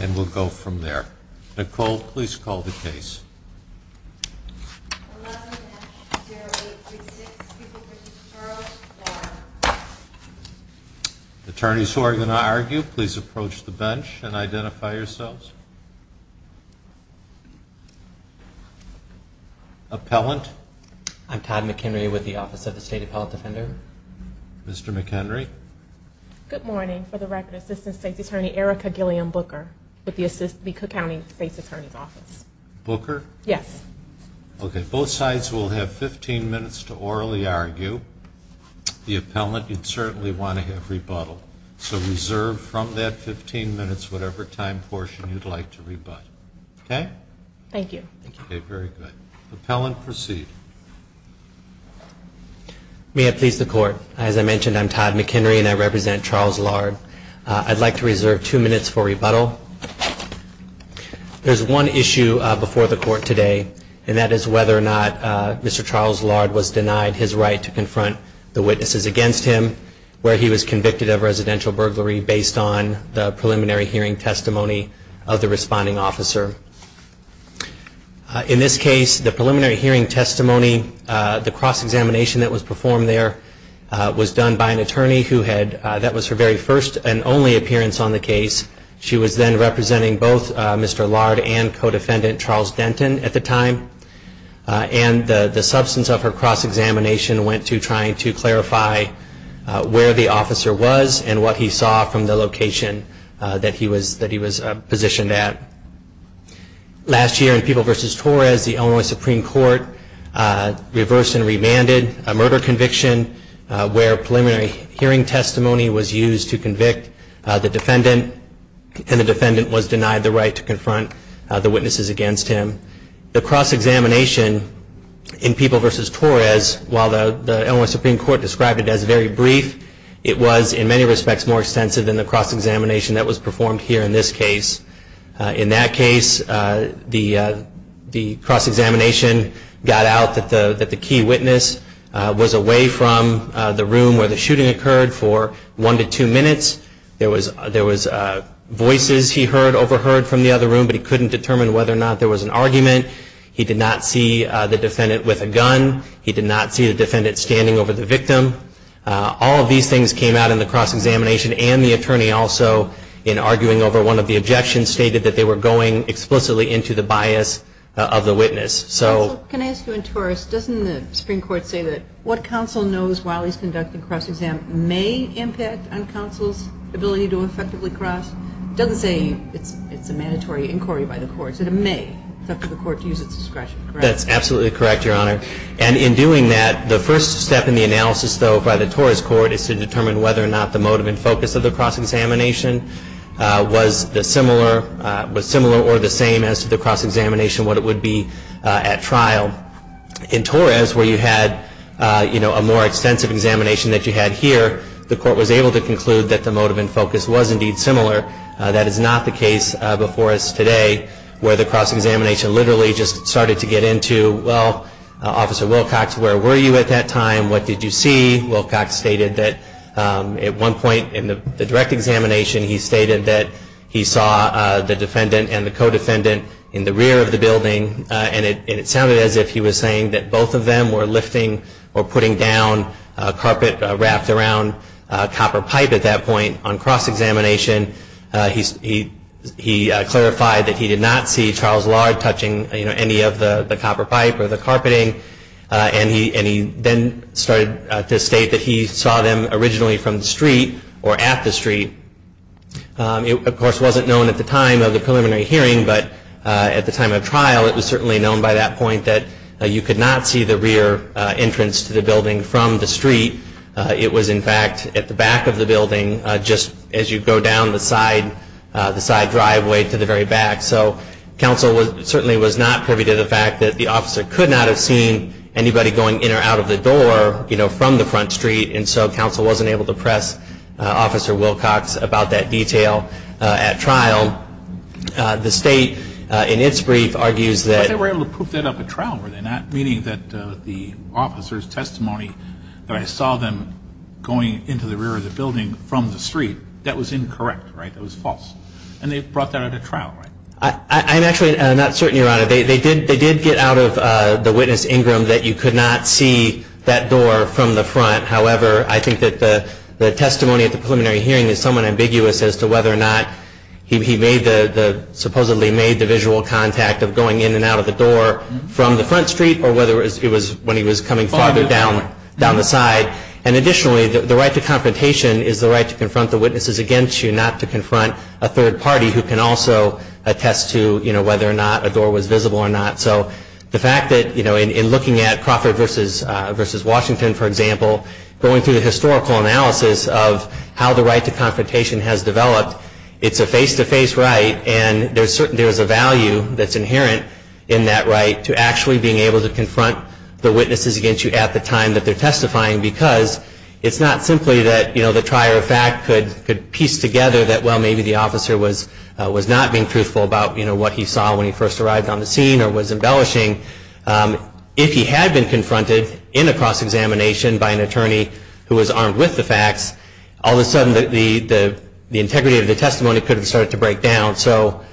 And we'll go from there. Nicole, please call the case. Attorneys who are going to argue, please approach the bench and identify yourselves. Appellant. I'm Todd McHenry with the Office of the State Appellant Defender. Mr. McHenry. Good morning. For the record, Assistant State's Attorney Erica Gilliam Booker with the Cook County State's Attorney's Office. Booker? Yes. Okay. Both sides will have 15 minutes to orally argue. The appellant, you'd certainly want to have rebuttal. So reserve from that 15 minutes whatever time portion you'd like to rebut. Okay? Thank you. Okay. Very good. Appellant, proceed. May I please the court? As I mentioned, I'm Todd McHenry and I represent Charles Lard. I'd like to reserve two minutes for rebuttal. There's one issue before the court today, and that is whether or not Mr. Charles Lard was denied his right to confront the witnesses against him, where he was convicted of residential burglary based on the preliminary hearing testimony of the responding officer. In this case, the preliminary hearing testimony, the cross-examination that was performed there, was done by an attorney who had, that was her very first and only appearance on the case. She was then representing both Mr. Lard and co-defendant Charles Denton at the time, and the substance of her cross-examination went to trying to clarify where the officer was and what he saw from the location that he was positioned at. Last year in People v. Torres, the Illinois Supreme Court reversed and remanded a murder conviction where preliminary hearing testimony was used to convict the defendant, and the defendant was denied the right to confront the witnesses against him. The cross-examination in People v. Torres, while the Illinois Supreme Court described it as very brief, it was in many respects more extensive than the cross-examination that was performed here in this case. In that case, the cross-examination got out that the key witness was away from the room where the shooting occurred for one to two minutes. There was voices he heard, overheard from the other room, but he couldn't determine whether or not there was an argument. He did not see the defendant with a gun. He did not see the defendant standing over the victim. All of these things came out in the cross-examination, and the attorney also, in arguing over one of the objections, stated that they were going explicitly into the bias of the witness. Counsel, can I ask you, in Torres, doesn't the Supreme Court say that what counsel knows while he's conducting cross-exam may impact on counsel's ability to effectively cross? It doesn't say it's a mandatory inquiry by the courts. It may affect the court to use its discretion, correct? That's absolutely correct, Your Honor. And in doing that, the first step in the analysis, though, by the Torres Court is to determine whether or not the motive and focus of the cross-examination was similar or the same as to the cross-examination, what it would be at trial. In Torres, where you had a more extensive examination that you had here, the court was able to conclude that the motive and focus was indeed similar. That is not the case before us today, where the cross-examination literally just started to get into, well, Officer Wilcox, where were you at that time? What did you see? Wilcox stated that at one point in the direct examination, he stated that he saw the defendant and the co-defendant in the rear of the building, and it sounded as if he was saying that both of them were lifting or putting down a carpet wrapped around a copper pipe at that point on cross-examination. He clarified that he did not see Charles Lard touching any of the copper pipe or the carpeting, and he then started to state that he saw them originally from the street or at the street. It, of course, wasn't known at the time of the preliminary hearing, but at the time of trial, it was certainly known by that point that you could not see the rear entrance to the building from the street. It was, in fact, at the back of the building, just as you go down the side driveway to the very back. So counsel certainly was not privy to the fact that the officer could not have seen anybody going in or out of the door from the front street, and so counsel wasn't able to press Officer Wilcox about that detail at trial. The state, in its brief, argues that… But they were able to proof that up at trial, were they not? Meaning that the officer's testimony that I saw them going into the rear of the building from the street, that was incorrect, right? That was false. And they brought that at a trial, right? I'm actually not certain, Your Honor. They did get out of the witness, Ingram, that you could not see that door from the front. However, I think that the testimony at the preliminary hearing is somewhat ambiguous as to whether or not he supposedly made the visual contact of going in and out of the door from the front street or whether it was when he was coming farther down the side. And additionally, the right to confrontation is the right to confront the witnesses against you, not to confront a third party who can also attest to whether or not a door was visible or not. So the fact that in looking at Crawford v. Washington, for example, going through the historical analysis of how the right to confrontation has developed, it's a face-to-face right, and there's a value that's inherent in that right to actually being able to confront the witnesses against you at the time that they're testifying because it's not simply that the trier of fact could piece together that, well, maybe the officer was not being truthful about what he saw when he first arrived on the scene or was embellishing. If he had been confronted in a cross-examination by an attorney who was armed with the facts, all of a sudden the integrity of the testimony could have started to break down. So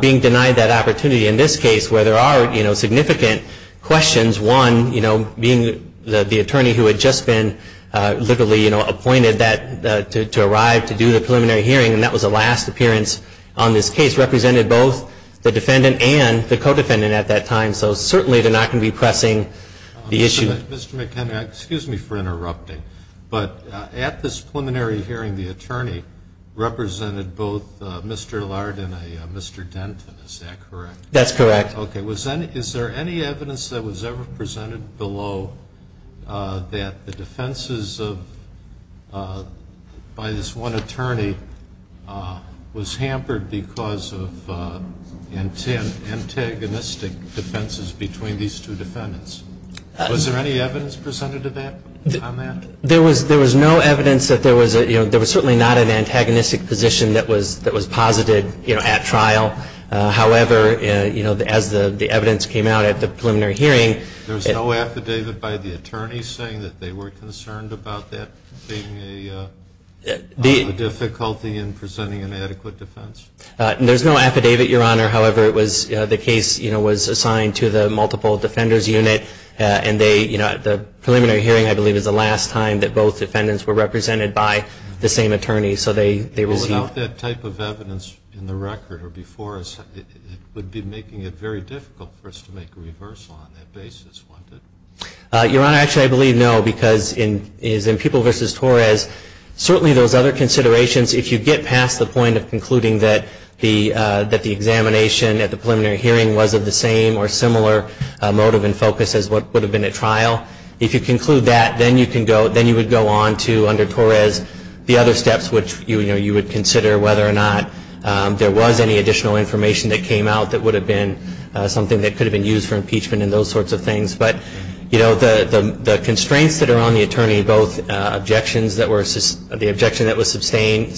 being denied that opportunity in this case where there are significant questions, one, being the attorney who had just been literally appointed to arrive to do the preliminary hearing, and that was the last appearance on this case, represented both the defendant and the co-defendant at that time. So certainly they're not going to be pressing the issue. Mr. McKenna, excuse me for interrupting, but at this preliminary hearing, the attorney represented both Mr. Lard and a Mr. Denton, is that correct? That's correct. Okay. Is there any evidence that was ever presented below that the defenses by this one attorney was hampered because of antagonistic defenses between these two defendants? Was there any evidence presented on that? There was no evidence that there was certainly not an antagonistic position that was posited at trial. However, as the evidence came out at the preliminary hearing. There was no affidavit by the attorney saying that they were concerned about that being a difficulty in presenting an adequate defense? There's no affidavit, Your Honor. However, the case was assigned to the multiple defenders unit, and the preliminary hearing, I believe, is the last time that both defendants were represented by the same attorney. So they received. Without that type of evidence in the record or before us, it would be making it very difficult for us to make a reversal on that basis, wouldn't it? Your Honor, actually, I believe no, because in People v. Torres, certainly those other considerations, if you get past the point of concluding that the examination at the preliminary hearing was of the same or similar motive and focus as what would have been at trial, if you conclude that, then you would go on to under Torres the other steps, which you would consider whether or not there was any additional information that came out that would have been something that could have been used for impeachment and those sorts of things. But, you know, the constraints that are on the attorney, both the objection that was sustained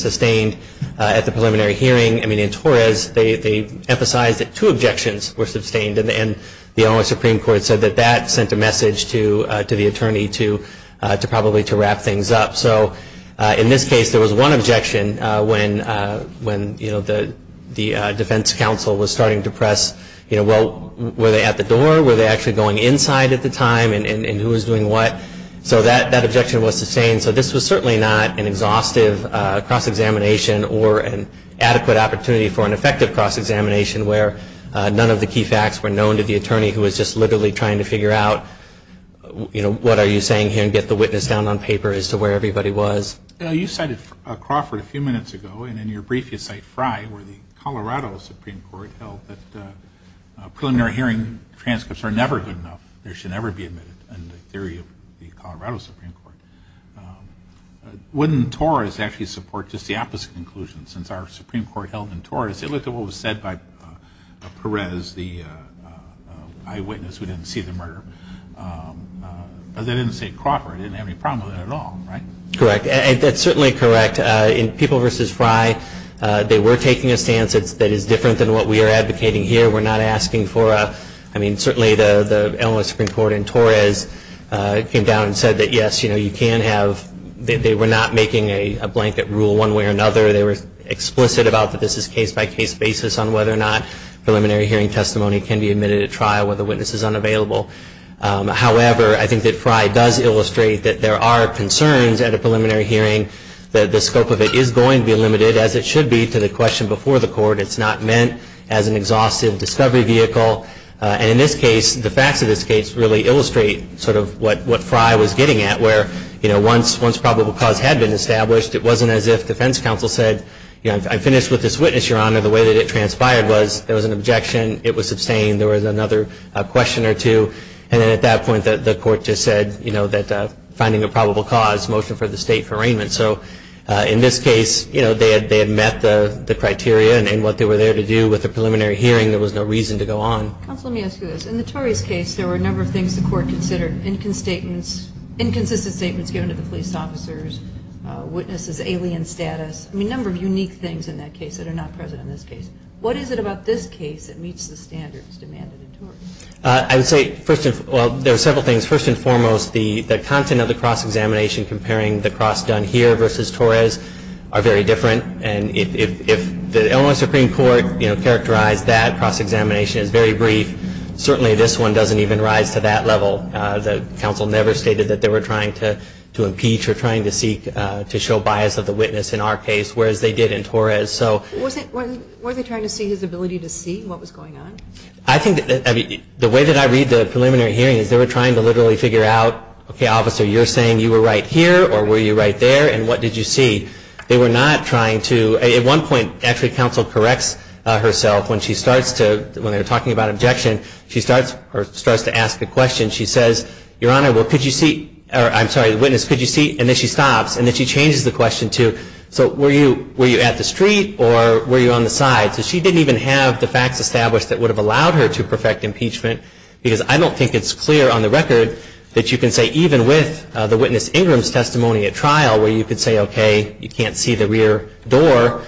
at the preliminary hearing. I mean, in Torres, they emphasized that two objections were sustained, and the only Supreme Court said that that sent a message to the attorney to probably to wrap things up. So in this case, there was one objection when, you know, the defense counsel was starting to press, you know, well, were they at the door? Were they actually going inside at the time, and who was doing what? So that objection was sustained. So this was certainly not an exhaustive cross-examination or an adequate opportunity for an effective cross-examination where none of the key facts were known to the attorney who was just literally trying to figure out, you know, what are you saying here and get the witness down on paper as to where everybody was. You cited Crawford a few minutes ago, and in your brief you cite Fry, where the Colorado Supreme Court held that preliminary hearing transcripts are never good enough. They should never be admitted in the theory of the Colorado Supreme Court. Wouldn't Torres actually support just the opposite conclusion? Since our Supreme Court held in Torres it looked at what was said by Perez, the eyewitness who didn't see the murder. But they didn't say Crawford. They didn't have any problem with that at all, right? Correct. That's certainly correct. In People v. Fry, they were taking a stance that is different than what we are advocating here. We're not asking for a, I mean, certainly the Illinois Supreme Court in Torres came down and said that, yes, you know, you can have, they were not making a blanket rule one way or another. They were explicit about that this is a case-by-case basis on whether or not preliminary hearing testimony can be admitted at trial, whether the witness is unavailable. However, I think that Fry does illustrate that there are concerns at a preliminary hearing, that the scope of it is going to be limited, as it should be, to the question before the court. It's not meant as an exhaustive discovery vehicle. And in this case, the facts of this case really illustrate sort of what Fry was getting at where, you know, once probable cause had been established, it wasn't as if defense counsel said, you know, I'm finished with this witness, Your Honor. The way that it transpired was there was an objection. It was sustained. There was another question or two. And then at that point the court just said, you know, that finding a probable cause, motion for the state for arraignment. So in this case, you know, they had met the criteria. And what they were there to do with the preliminary hearing, there was no reason to go on. Counsel, let me ask you this. In the Tories' case, there were a number of things the court considered. Inconsistent statements given to the police officers, witnesses' alien status. I mean, a number of unique things in that case that are not present in this case. What is it about this case that meets the standards demanded in Tories? I would say first of all, there are several things. First and foremost, the content of the cross-examination comparing the cross done here versus Tories are very different. And if the Illinois Supreme Court, you know, characterized that cross-examination as very brief, certainly this one doesn't even rise to that level. The counsel never stated that they were trying to impeach or trying to seek to show bias of the witness in our case, whereas they did in Tories. So. Weren't they trying to see his ability to see what was going on? I think that, I mean, the way that I read the preliminary hearing is they were trying to literally figure out, okay, officer, you're saying you were right here, or were you right there, and what did you see? They were not trying to, at one point, actually counsel corrects herself when she starts to, when they were talking about objection, she starts, or starts to ask a question. She says, Your Honor, well, could you see, or I'm sorry, the witness, could you see? And then she stops, and then she changes the question to, so were you, were you at the street, or were you on the side? So she didn't even have the facts established that would have allowed her to perfect impeachment, because I don't think it's clear on the record that you can say, even with the witness Ingram's testimony at trial, where you could say, okay, you can't see the rear door.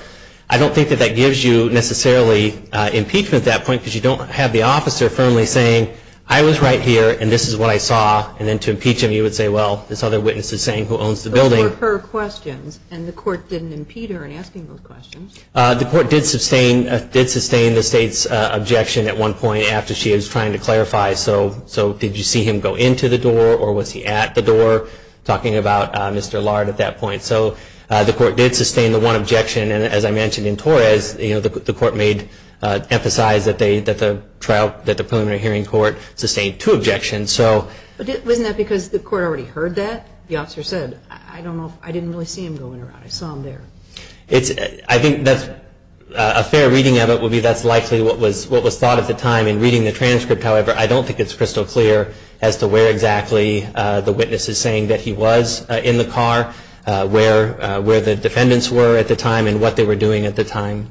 I don't think that that gives you necessarily impeachment at that point, because you don't have the officer firmly saying, I was right here, and this is what I saw. And then to impeach him, you would say, well, this other witness is saying who owns the building. Those were her questions, and the court didn't impede her in asking those questions. The court did sustain the state's objection at one point after she was trying to clarify. So did you see him go into the door, or was he at the door, talking about Mr. Lard at that point? So the court did sustain the one objection, and as I mentioned in Torres, the court emphasized that the preliminary hearing court sustained two objections. But wasn't that because the court already heard that? The officer said, I don't know, I didn't really see him going around. I saw him there. I think a fair reading of it would be that's likely what was thought at the time in reading the transcript. However, I don't think it's crystal clear as to where exactly the witness is saying that he was in the car, where the defendants were at the time, and what they were doing at the time.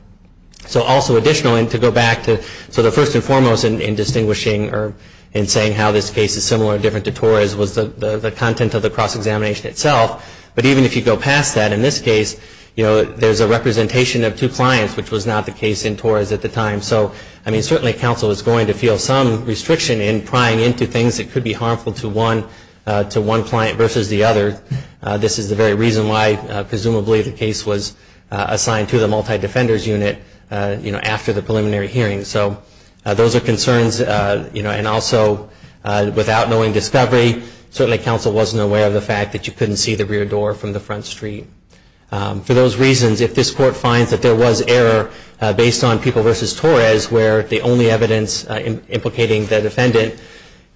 So also additionally, to go back to the first and foremost in distinguishing or in saying how this case is similar or different to Torres was the content of the cross-examination itself. But even if you go past that, in this case, you know, there's a representation of two clients, which was not the case in Torres at the time. So, I mean, certainly counsel is going to feel some restriction in prying into things that could be harmful to one client versus the other. This is the very reason why, presumably, the case was assigned to the multi-defenders unit, you know, after the preliminary hearing. So those are concerns, you know, and also without knowing discovery, certainly counsel wasn't aware of the fact that you couldn't see the rear door from the front street. For those reasons, if this court finds that there was error based on people versus Torres, where the only evidence implicating the defendant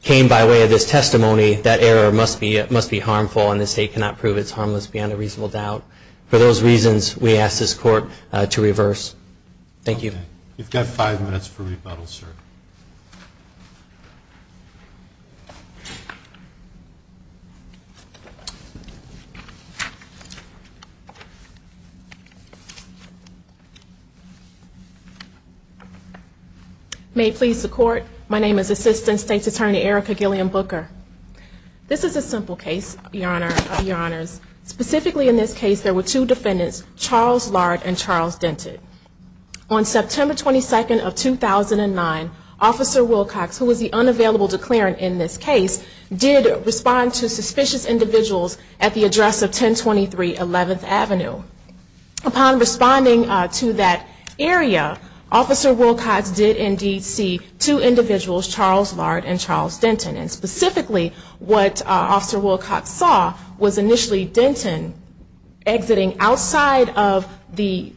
came by way of this testimony, that error must be harmful and the state cannot prove it's harmless beyond a reasonable doubt. For those reasons, we ask this court to reverse. Thank you. You've got five minutes for rebuttal, sir. May it please the court, my name is Assistant State's Attorney Erica Gilliam Booker. This is a simple case, Your Honors. Specifically in this case, there were two defendants, Charles Lard and Charles Denton. On September 22nd of 2009, Officer Wilcox, who was the unavailable declarant in this case, did respond to suspicious individuals at the address of 1023 11th Avenue. Upon responding to that area, Officer Wilcox did indeed see two individuals, Charles Lard and Charles Denton. Specifically, what Officer Wilcox saw was initially Denton exiting outside of the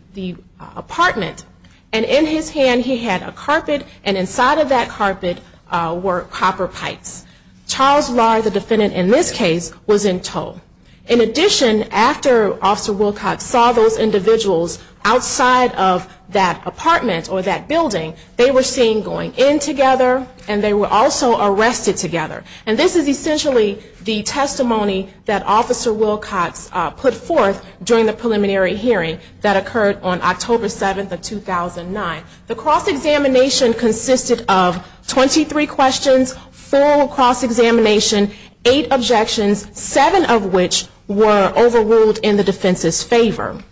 apartment, and in his hand he had a carpet, and inside of that carpet were copper pipes. Charles Lard, the defendant in this case, was in tow. In addition, after Officer Wilcox saw those individuals outside of that apartment or that building, they were seen going in together, and they were also arrested together. And this is essentially the testimony that Officer Wilcox put forth during the preliminary hearing that occurred on October 7th of 2009. The cross-examination consisted of 23 questions, four cross-examination, eight objections, seven of which were overruled in the defense's favor.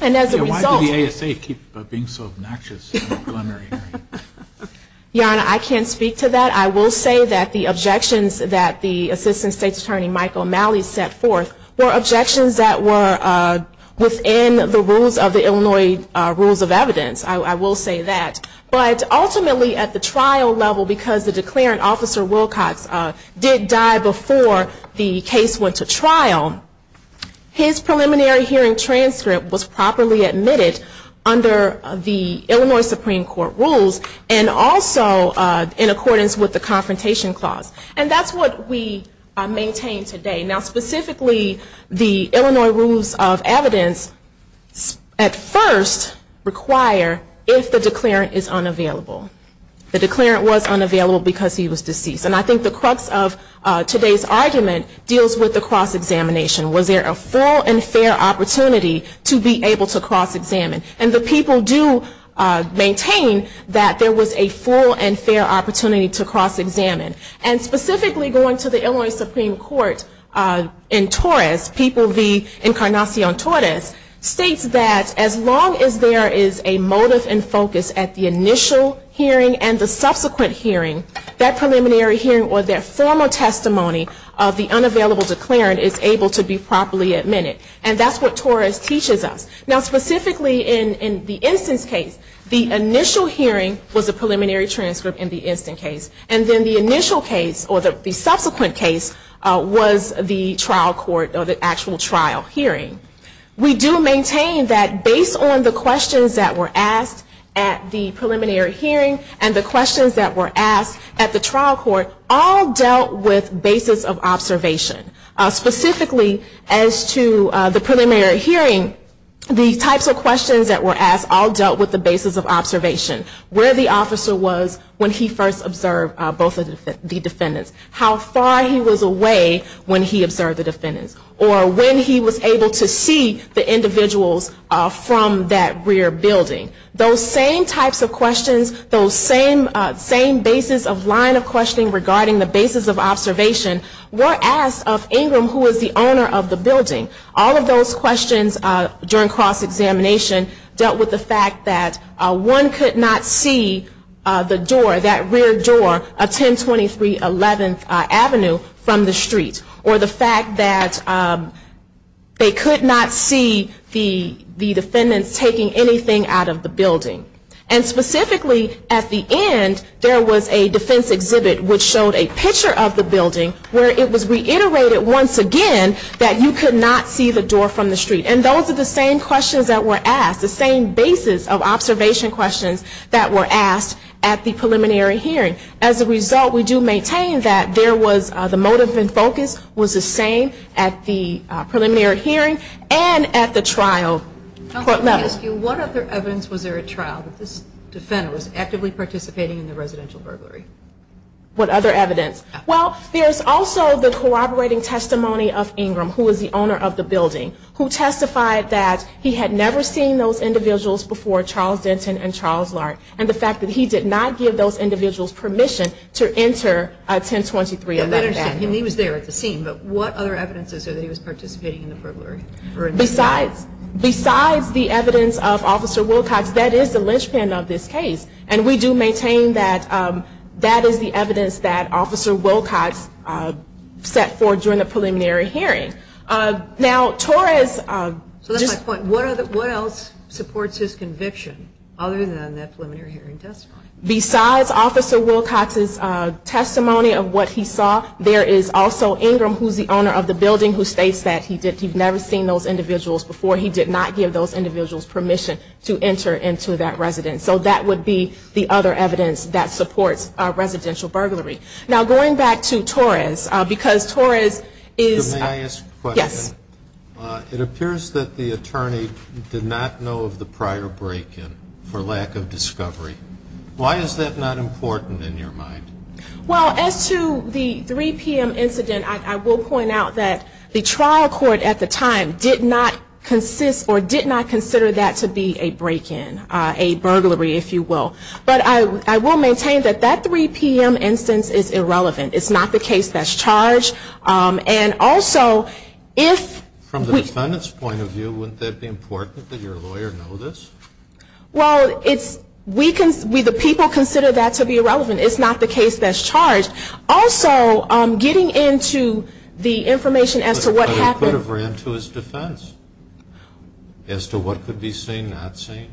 And as a result... Yanna, I can't speak to that. I will say that the objections that the Assistant State's Attorney, Michael Malley, set forth were objections that were within the rules of the Illinois Rules of Evidence. I will say that. But ultimately, at the trial level, because the declarant, Officer Wilcox, did die before the case went to trial, his preliminary hearing transcript was properly admitted under the Illinois Supreme Court rules, and also in accordance with the Confrontation Clause. And that's what we maintain today. Now, specifically, the Illinois Rules of Evidence at first require if the declarant is unavailable. The declarant was unavailable because he was deceased. And I think the crux of today's argument deals with the cross-examination. Was there a full and fair opportunity to be able to cross-examine? And the people do maintain that there was a full and fair opportunity to cross-examine. And specifically going to the Illinois Supreme Court in Torres, People v. Encarnacion Torres, states that as long as there is a motive and focus at the initial hearing and the subsequent hearing, that preliminary hearing or that formal testimony of the unavailable declarant is able to be properly admitted. And that's what Torres teaches us. Now, specifically in the instance case, the initial hearing was a preliminary transcript in the instance case. And then the initial case, or the subsequent case, was the trial court or the actual trial hearing. We do maintain that based on the questions that were asked at the preliminary hearing and the questions that were asked at the trial court, all dealt with basis of observation. Specifically as to the preliminary hearing, the types of questions that were asked all dealt with the basis of observation. Where the officer was when he first observed both of the defendants. How far he was away when he observed the defendants. Or when he was able to see the individuals from that rear building. Those same types of questions, those same basis of line of questioning regarding the basis of observation were asked of Ingram, who was the owner of the building. All of those questions during cross-examination dealt with the fact that one could not see the door, that rear door, a 102311 Avenue from the street. Or the fact that they could not see the defendants taking anything out of the building. And specifically at the end, there was a defense exhibit which showed a picture of the building where it was reiterated once again that you could not see the door from the street. And those are the same questions that were asked, the same basis of observation questions that were asked at the preliminary hearing. As a result, we do maintain that the motive and focus was the same at the preliminary hearing and at the trial court level. What other evidence was there at trial that this defendant was actively participating in the residential burglary? What other evidence? Well, there's also the corroborating testimony of Ingram, who was the owner of the building, who testified that he had never seen those individuals before Charles Denton and Charles Lark. And the fact that he did not give those individuals permission to enter 102311 Avenue. He was there at the scene, but what other evidence is there that he was participating in the burglary? Besides the evidence of Officer Wilcox, that is the linchpin of this case. And we do maintain that that is the evidence that Officer Wilcox set forth during the preliminary hearing. Now, Torres just... So that's my point. What else supports his conviction other than that preliminary hearing testimony? Besides Officer Wilcox's testimony of what he saw, there is also Ingram, who is the owner of the building, who states that he did not give those individuals permission to enter into that residence. So that would be the other evidence that supports residential burglary. Now, going back to Torres, because Torres is... May I ask a question? Yes. It appears that the attorney did not know of the prior break-in for lack of discovery. Why is that not important in your mind? Well, as to the 3 p.m. incident, I will point out that the trial court at the time did not consider that to be a break-in, a burglary, if you will. But I will maintain that that 3 p.m. instance is irrelevant. It's not the case that's charged. And also, if... From the defendant's point of view, wouldn't that be important that your lawyer know this? Well, the people consider that to be irrelevant. It's not the case that's charged. Also, getting into the information as to what happened... But it could have ran to his defense as to what could be seen, not seen.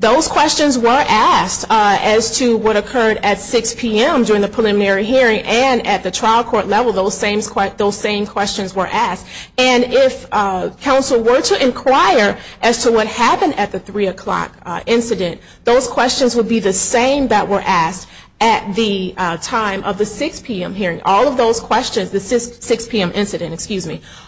Those questions were asked as to what occurred at 6 p.m. during the preliminary hearing, and at the trial court level, those same questions were asked. And if counsel were to inquire as to what happened at the 3 o'clock incident, those questions would be the same that were asked at the time of the 6 p.m. hearing. All of those questions, the 6 p.m. incident,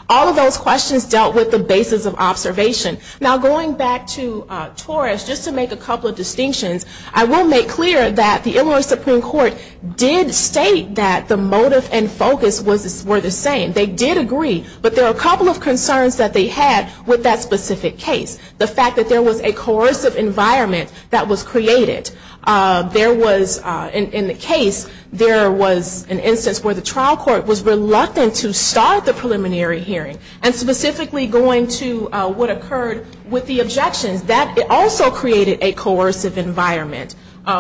all of those questions dealt with the basis of observation. Now, going back to Torres, just to make a couple of distinctions, I will make clear that the Illinois Supreme Court did state that the motive and focus were the same. They did agree, but there were a couple of concerns that they had with that specific case. The fact that there was a coercive environment that was created. In the case, there was an instance where the trial court was reluctant to start the preliminary hearing, and specifically going to what occurred with the objections. That also created a coercive environment.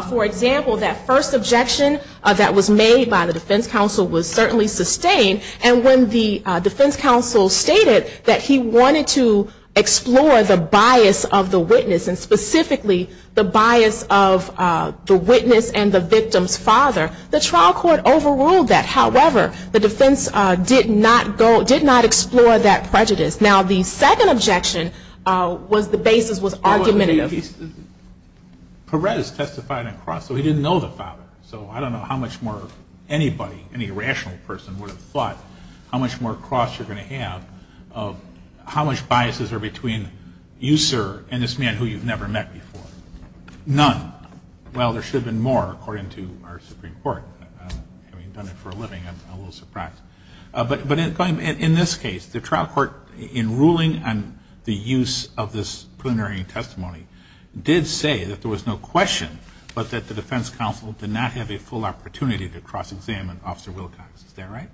For example, that first objection that was made by the defense counsel was certainly sustained, and when the defense counsel stated that he wanted to explore the bias of the witness, and specifically the bias of the witness and the victim's father, the trial court overruled that. However, the defense did not explore that prejudice. Now, the second objection was the basis was argumentative. In this case, Perez testified on cross, so he didn't know the father. So I don't know how much more anybody, any rational person, would have thought how much more cross you're going to have of how much biases are between you, sir, and this man who you've never met before. None. Well, there should have been more, according to our Supreme Court. Having done it for a living, I'm a little surprised. But in this case, the trial court, in ruling on the use of this preliminary testimony, did say that there was no question but that the defense counsel did not have a full opportunity to cross-examine Officer Wilcox. Is that right?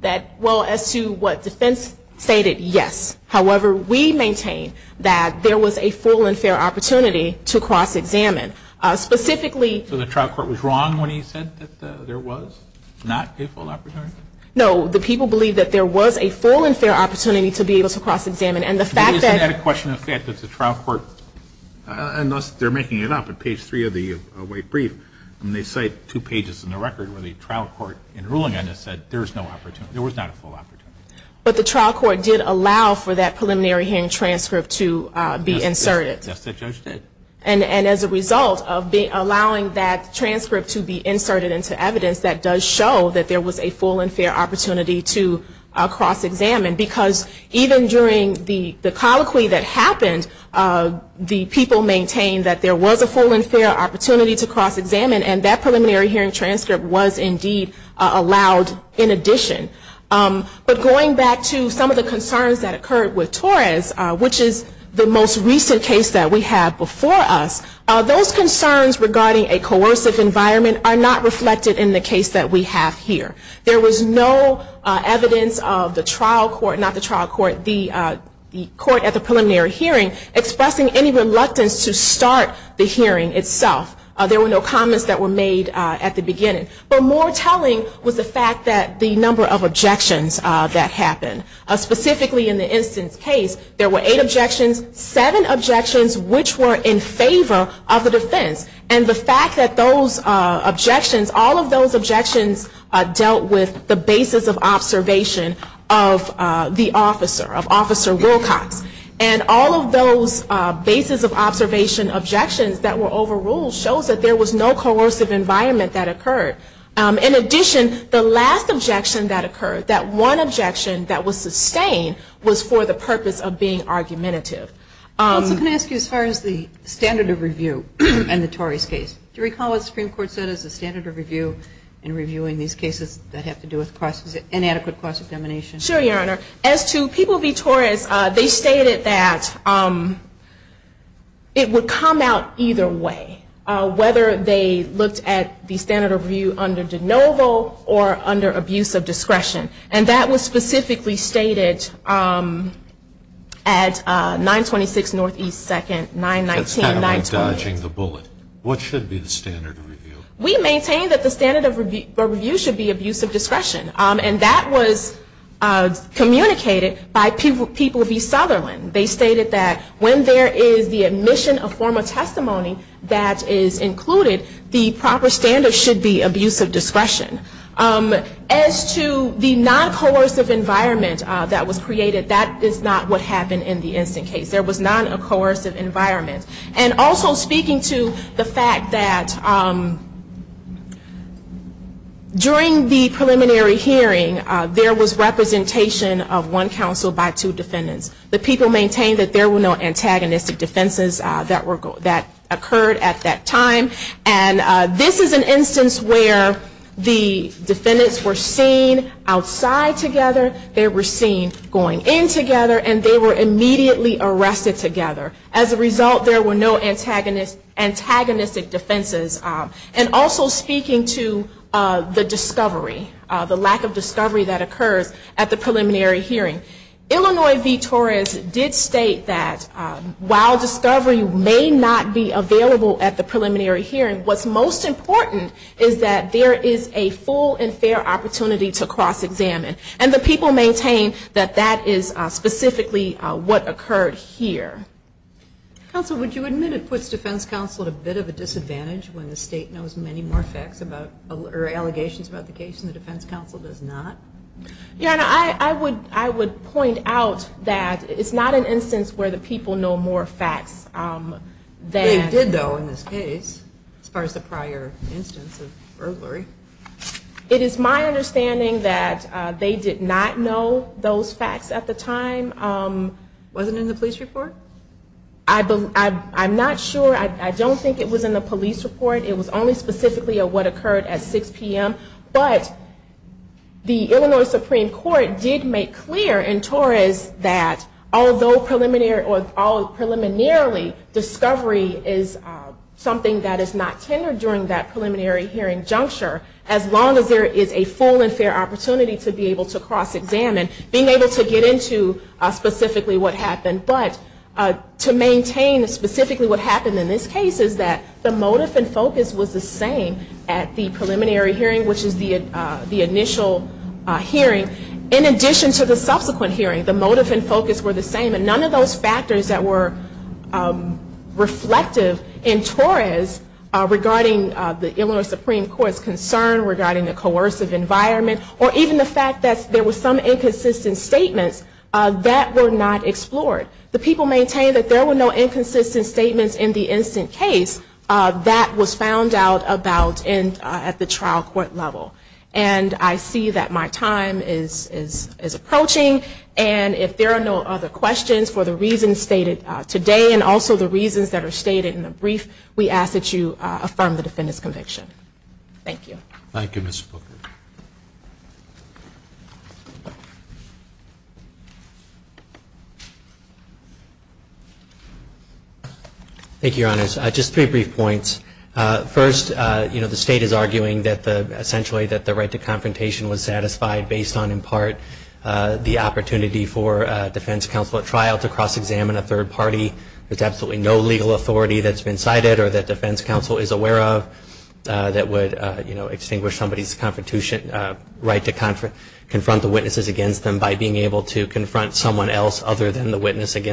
That, well, as to what defense stated, yes. However, we maintain that there was a full and fair opportunity to cross-examine. So the trial court was wrong when he said that there was not a full opportunity? No. The people believe that there was a full and fair opportunity to be able to cross-examine. Isn't that a question of the fact that the trial court, and they're making it up at page three of the weight brief, they cite two pages in the record where the trial court in ruling on this said there was not a full opportunity. But the trial court did allow for that preliminary hearing transcript to be inserted. Yes, the judge did. And as a result of allowing that transcript to be inserted into evidence, that does show that there was a full and fair opportunity to cross-examine, because even during the colloquy that happened, the people maintained that there was a full and fair opportunity to cross-examine, and that preliminary hearing transcript was indeed allowed in addition. But going back to some of the concerns that occurred with Torres, which is the most recent case that we have before us, those concerns regarding a coercive environment are not reflected in the case that we have here. There was no evidence of the trial court, not the trial court, the court at the preliminary hearing, expressing any reluctance to start the hearing itself. There were no comments that were made at the beginning. But more telling was the fact that the number of objections that happened. Specifically in the instance case, there were eight objections, seven objections which were in favor of the defense. And the fact that those objections, all of those objections dealt with the basis of observation of the officer, of Officer Wilcox. And all of those basis of observation objections that were overruled shows that there was no coercive environment that occurred. In addition, the last objection that occurred, that one objection that was sustained, was for the purpose of being argumentative. I was going to ask you as far as the standard of review in the Torres case. Do you recall what the Supreme Court said as the standard of review in reviewing these cases that have to do with inadequate cross-examination? Sure, Your Honor. As to people v. Torres, they stated that it would come out either way. Whether they looked at the standard of review under de novo or under abuse of discretion. And that was specifically stated at 926 N.E. 2nd, 919. That's kind of like dodging the bullet. What should be the standard of review? We maintain that the standard of review should be abuse of discretion. And that was communicated by people v. Sutherland. They stated that when there is the admission of formal testimony that is included, the proper standard should be abuse of discretion. As to the non-coercive environment that was created, that is not what happened in the instant case. There was not a coercive environment. And also speaking to the fact that during the preliminary hearing, there was representation of one counsel by two defendants. The people maintained that there were no antagonistic defenses that occurred at that time. And this is an instance where the defendants were seen outside together, they were seen going in together, and they were immediately arrested together. As a result, there were no antagonistic defenses. And also speaking to the discovery, the lack of discovery that occurs at the preliminary hearing. Illinois v. Torres did state that while discovery may not be available at the preliminary hearing, what's most important is that there is a full and fair opportunity to cross-examine. And the people maintain that that is specifically what occurred here. Counsel, would you admit it puts defense counsel at a bit of a disadvantage when the state knows many more facts or allegations about the case than the defense counsel does not? Yeah, I would point out that it's not an instance where the people know more facts. They did, though, in this case, as far as the prior instance of burglary. It is my understanding that they did not know those facts at the time. Was it in the police report? I'm not sure. I don't think it was in the police report. It was only specifically of what occurred at 6 p.m. But the Illinois Supreme Court did make clear in Torres that although preliminarily discovery is something that is not tendered during that preliminary hearing juncture, as long as there is a full and fair opportunity to be able to cross-examine, being able to get into specifically what happened. But to maintain specifically what happened in this case is that the motive and focus of the case is that there is a preliminary hearing. The motive and focus was the same at the preliminary hearing, which is the initial hearing. In addition to the subsequent hearing, the motive and focus were the same, and none of those factors that were reflective in Torres regarding the Illinois Supreme Court's concern, regarding the coercive environment, or even the fact that there were some inconsistent statements, that were not explored. The people maintained that there were no inconsistent statements in the instant case that was found out about at the trial court level. And I see that my time is approaching, and if there are no other questions for the reasons stated today, and also the reasons that are stated in the brief, we ask that you affirm the defendant's conviction. Thank you. Thank you, Your Honors. Just three brief points. First, you know, the state is arguing that the, essentially that the right to confrontation was satisfied based on, in part, the opportunity for a defense counsel at trial to cross-examine a third party. There's absolutely no legal authority that's been cited, or that defense counsel is aware of, that would, you know, extinguish somebody's right to confront the witnesses against them by being able to confront someone else other than the witnesses.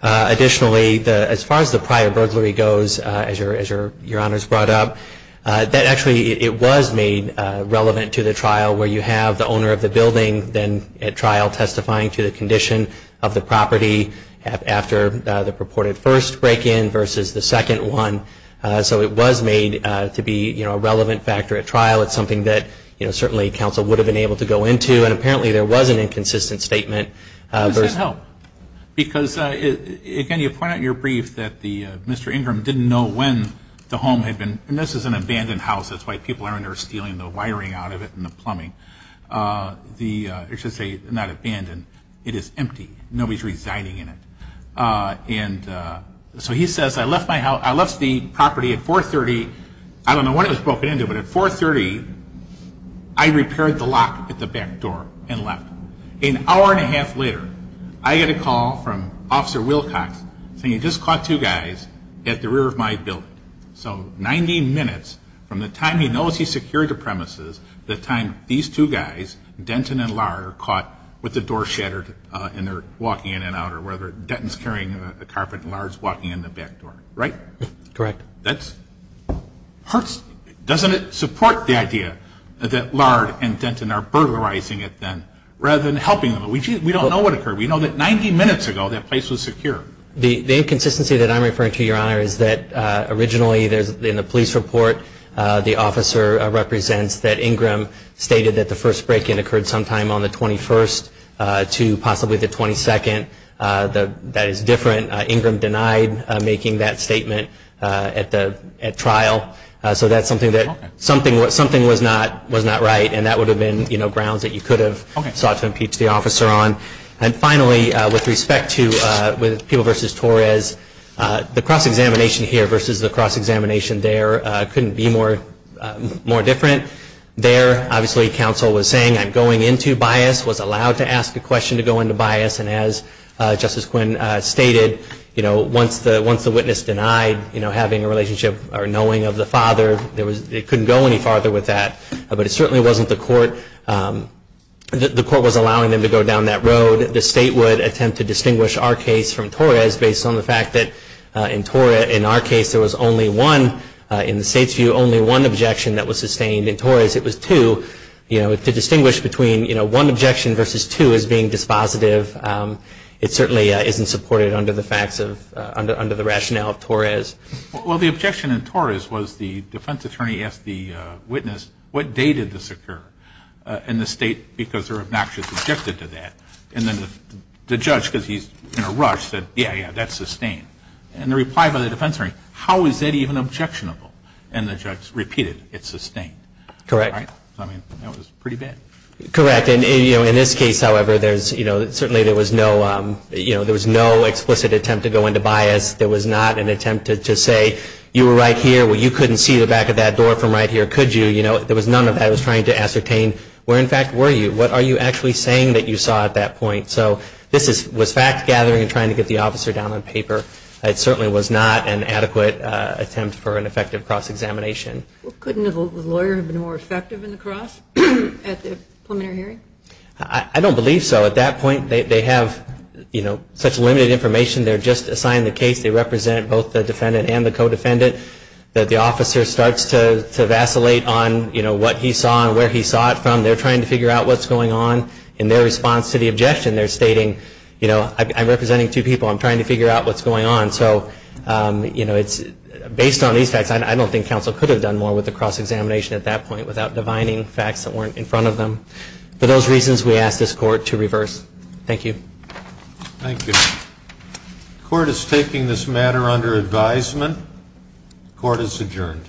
Additionally, as far as the prior burglary goes, as Your Honors brought up, that actually it was made relevant to the trial, where you have the owner of the building then at trial testifying to the condition of the property after the purported first break-in versus the second one. So it was made to be, you know, a relevant factor at trial. It's something that, you know, certainly counsel would have been able to go into, and apparently there was an inconsistent statement. Because, again, you point out in your brief that the, Mr. Ingram didn't know when the home had been, and this is an abandoned house, that's why people are in there stealing the wiring out of it and the plumbing, the, or I should say, not abandoned, it is empty. Nobody's residing in it. And so he says, I left my house, I left the property at 430, I don't know what it was broken into, but at 430, I repaired the lock at the back door and left. An hour and a half later, I get a call from Officer Wilcox saying he just caught two guys at the rear of my building. So 90 minutes from the time he knows he secured the premises, the time these two guys, Denton and Lahr, are caught with the door shattered and they're walking in and out, or whether Denton's carrying a carpet and Lahr's walking in the back door, right? So it's a very different idea that Lahr and Denton are burglarizing it then, rather than helping them. We don't know what occurred. We know that 90 minutes ago, that place was secure. The inconsistency that I'm referring to, Your Honor, is that originally, in the police report, the officer represents that Ingram stated that the first break-in occurred sometime on the 21st to possibly the 22nd. That is different. Ingram denied making that statement at trial. So that's something that was not right, and that would have been grounds that you could have sought to impeach the officer on. And finally, with respect to People v. Torres, the cross-examination here versus the cross-examination there couldn't be more different. There, obviously, counsel was saying, I'm going into bias, was allowed to ask a question to go into bias, and as Justice Quinn stated, once the witness denied having a relationship or knowing of the father, it couldn't go any farther with that. But it certainly wasn't the court. The court was allowing them to go down that road. The State would attempt to distinguish our case from Torres based on the fact that in our case, there was only one, in the State's view, only one objection that was sustained. In Torres, it was two. To distinguish between one objection versus two as being dispositive, it certainly isn't supported under the facts of, under the rationale of Torres. Well, the objection in Torres was the defense attorney asked the witness, what day did this occur? And the State, because they're obnoxious, objected to that. And then the judge, because he's in a rush, said, yeah, yeah, that's sustained. And the reply by the defense attorney, how is that even objectionable? And the judge repeated, it's sustained. Correct. I mean, that was pretty bad. Correct. And, you know, in this case, however, there's, you know, certainly there was no, you know, there was no explicit attempt to go into bias. There was not an attempt to say, you were right here, well, you couldn't see the back of that door from right here, could you? You know, there was none of that. I was trying to ascertain where, in fact, were you? What are you actually saying that you saw at that point? So this was fact-gathering and trying to get the officer down on paper. It certainly was not an adequate attempt for an effective cross-examination. Couldn't the lawyer have been more effective in the cross at the preliminary hearing? I don't believe so. At that point, they have, you know, such limited information, they're just assigned the case, they represent both the defendant and the co-defendant, that the officer starts to vacillate on, you know, what he saw and where he saw it from. They're trying to figure out what's going on. In their response to the objection, they're stating, you know, I'm representing two people. I'm trying to figure out what's going on. So, you know, it's based on these facts. I don't think counsel could have done more with the cross-examination at that point without divining facts that weren't in front of them. For those reasons, we ask this Court to reverse. Thank you. Thank you. The Court is taking this matter under advisement. The Court is adjourned.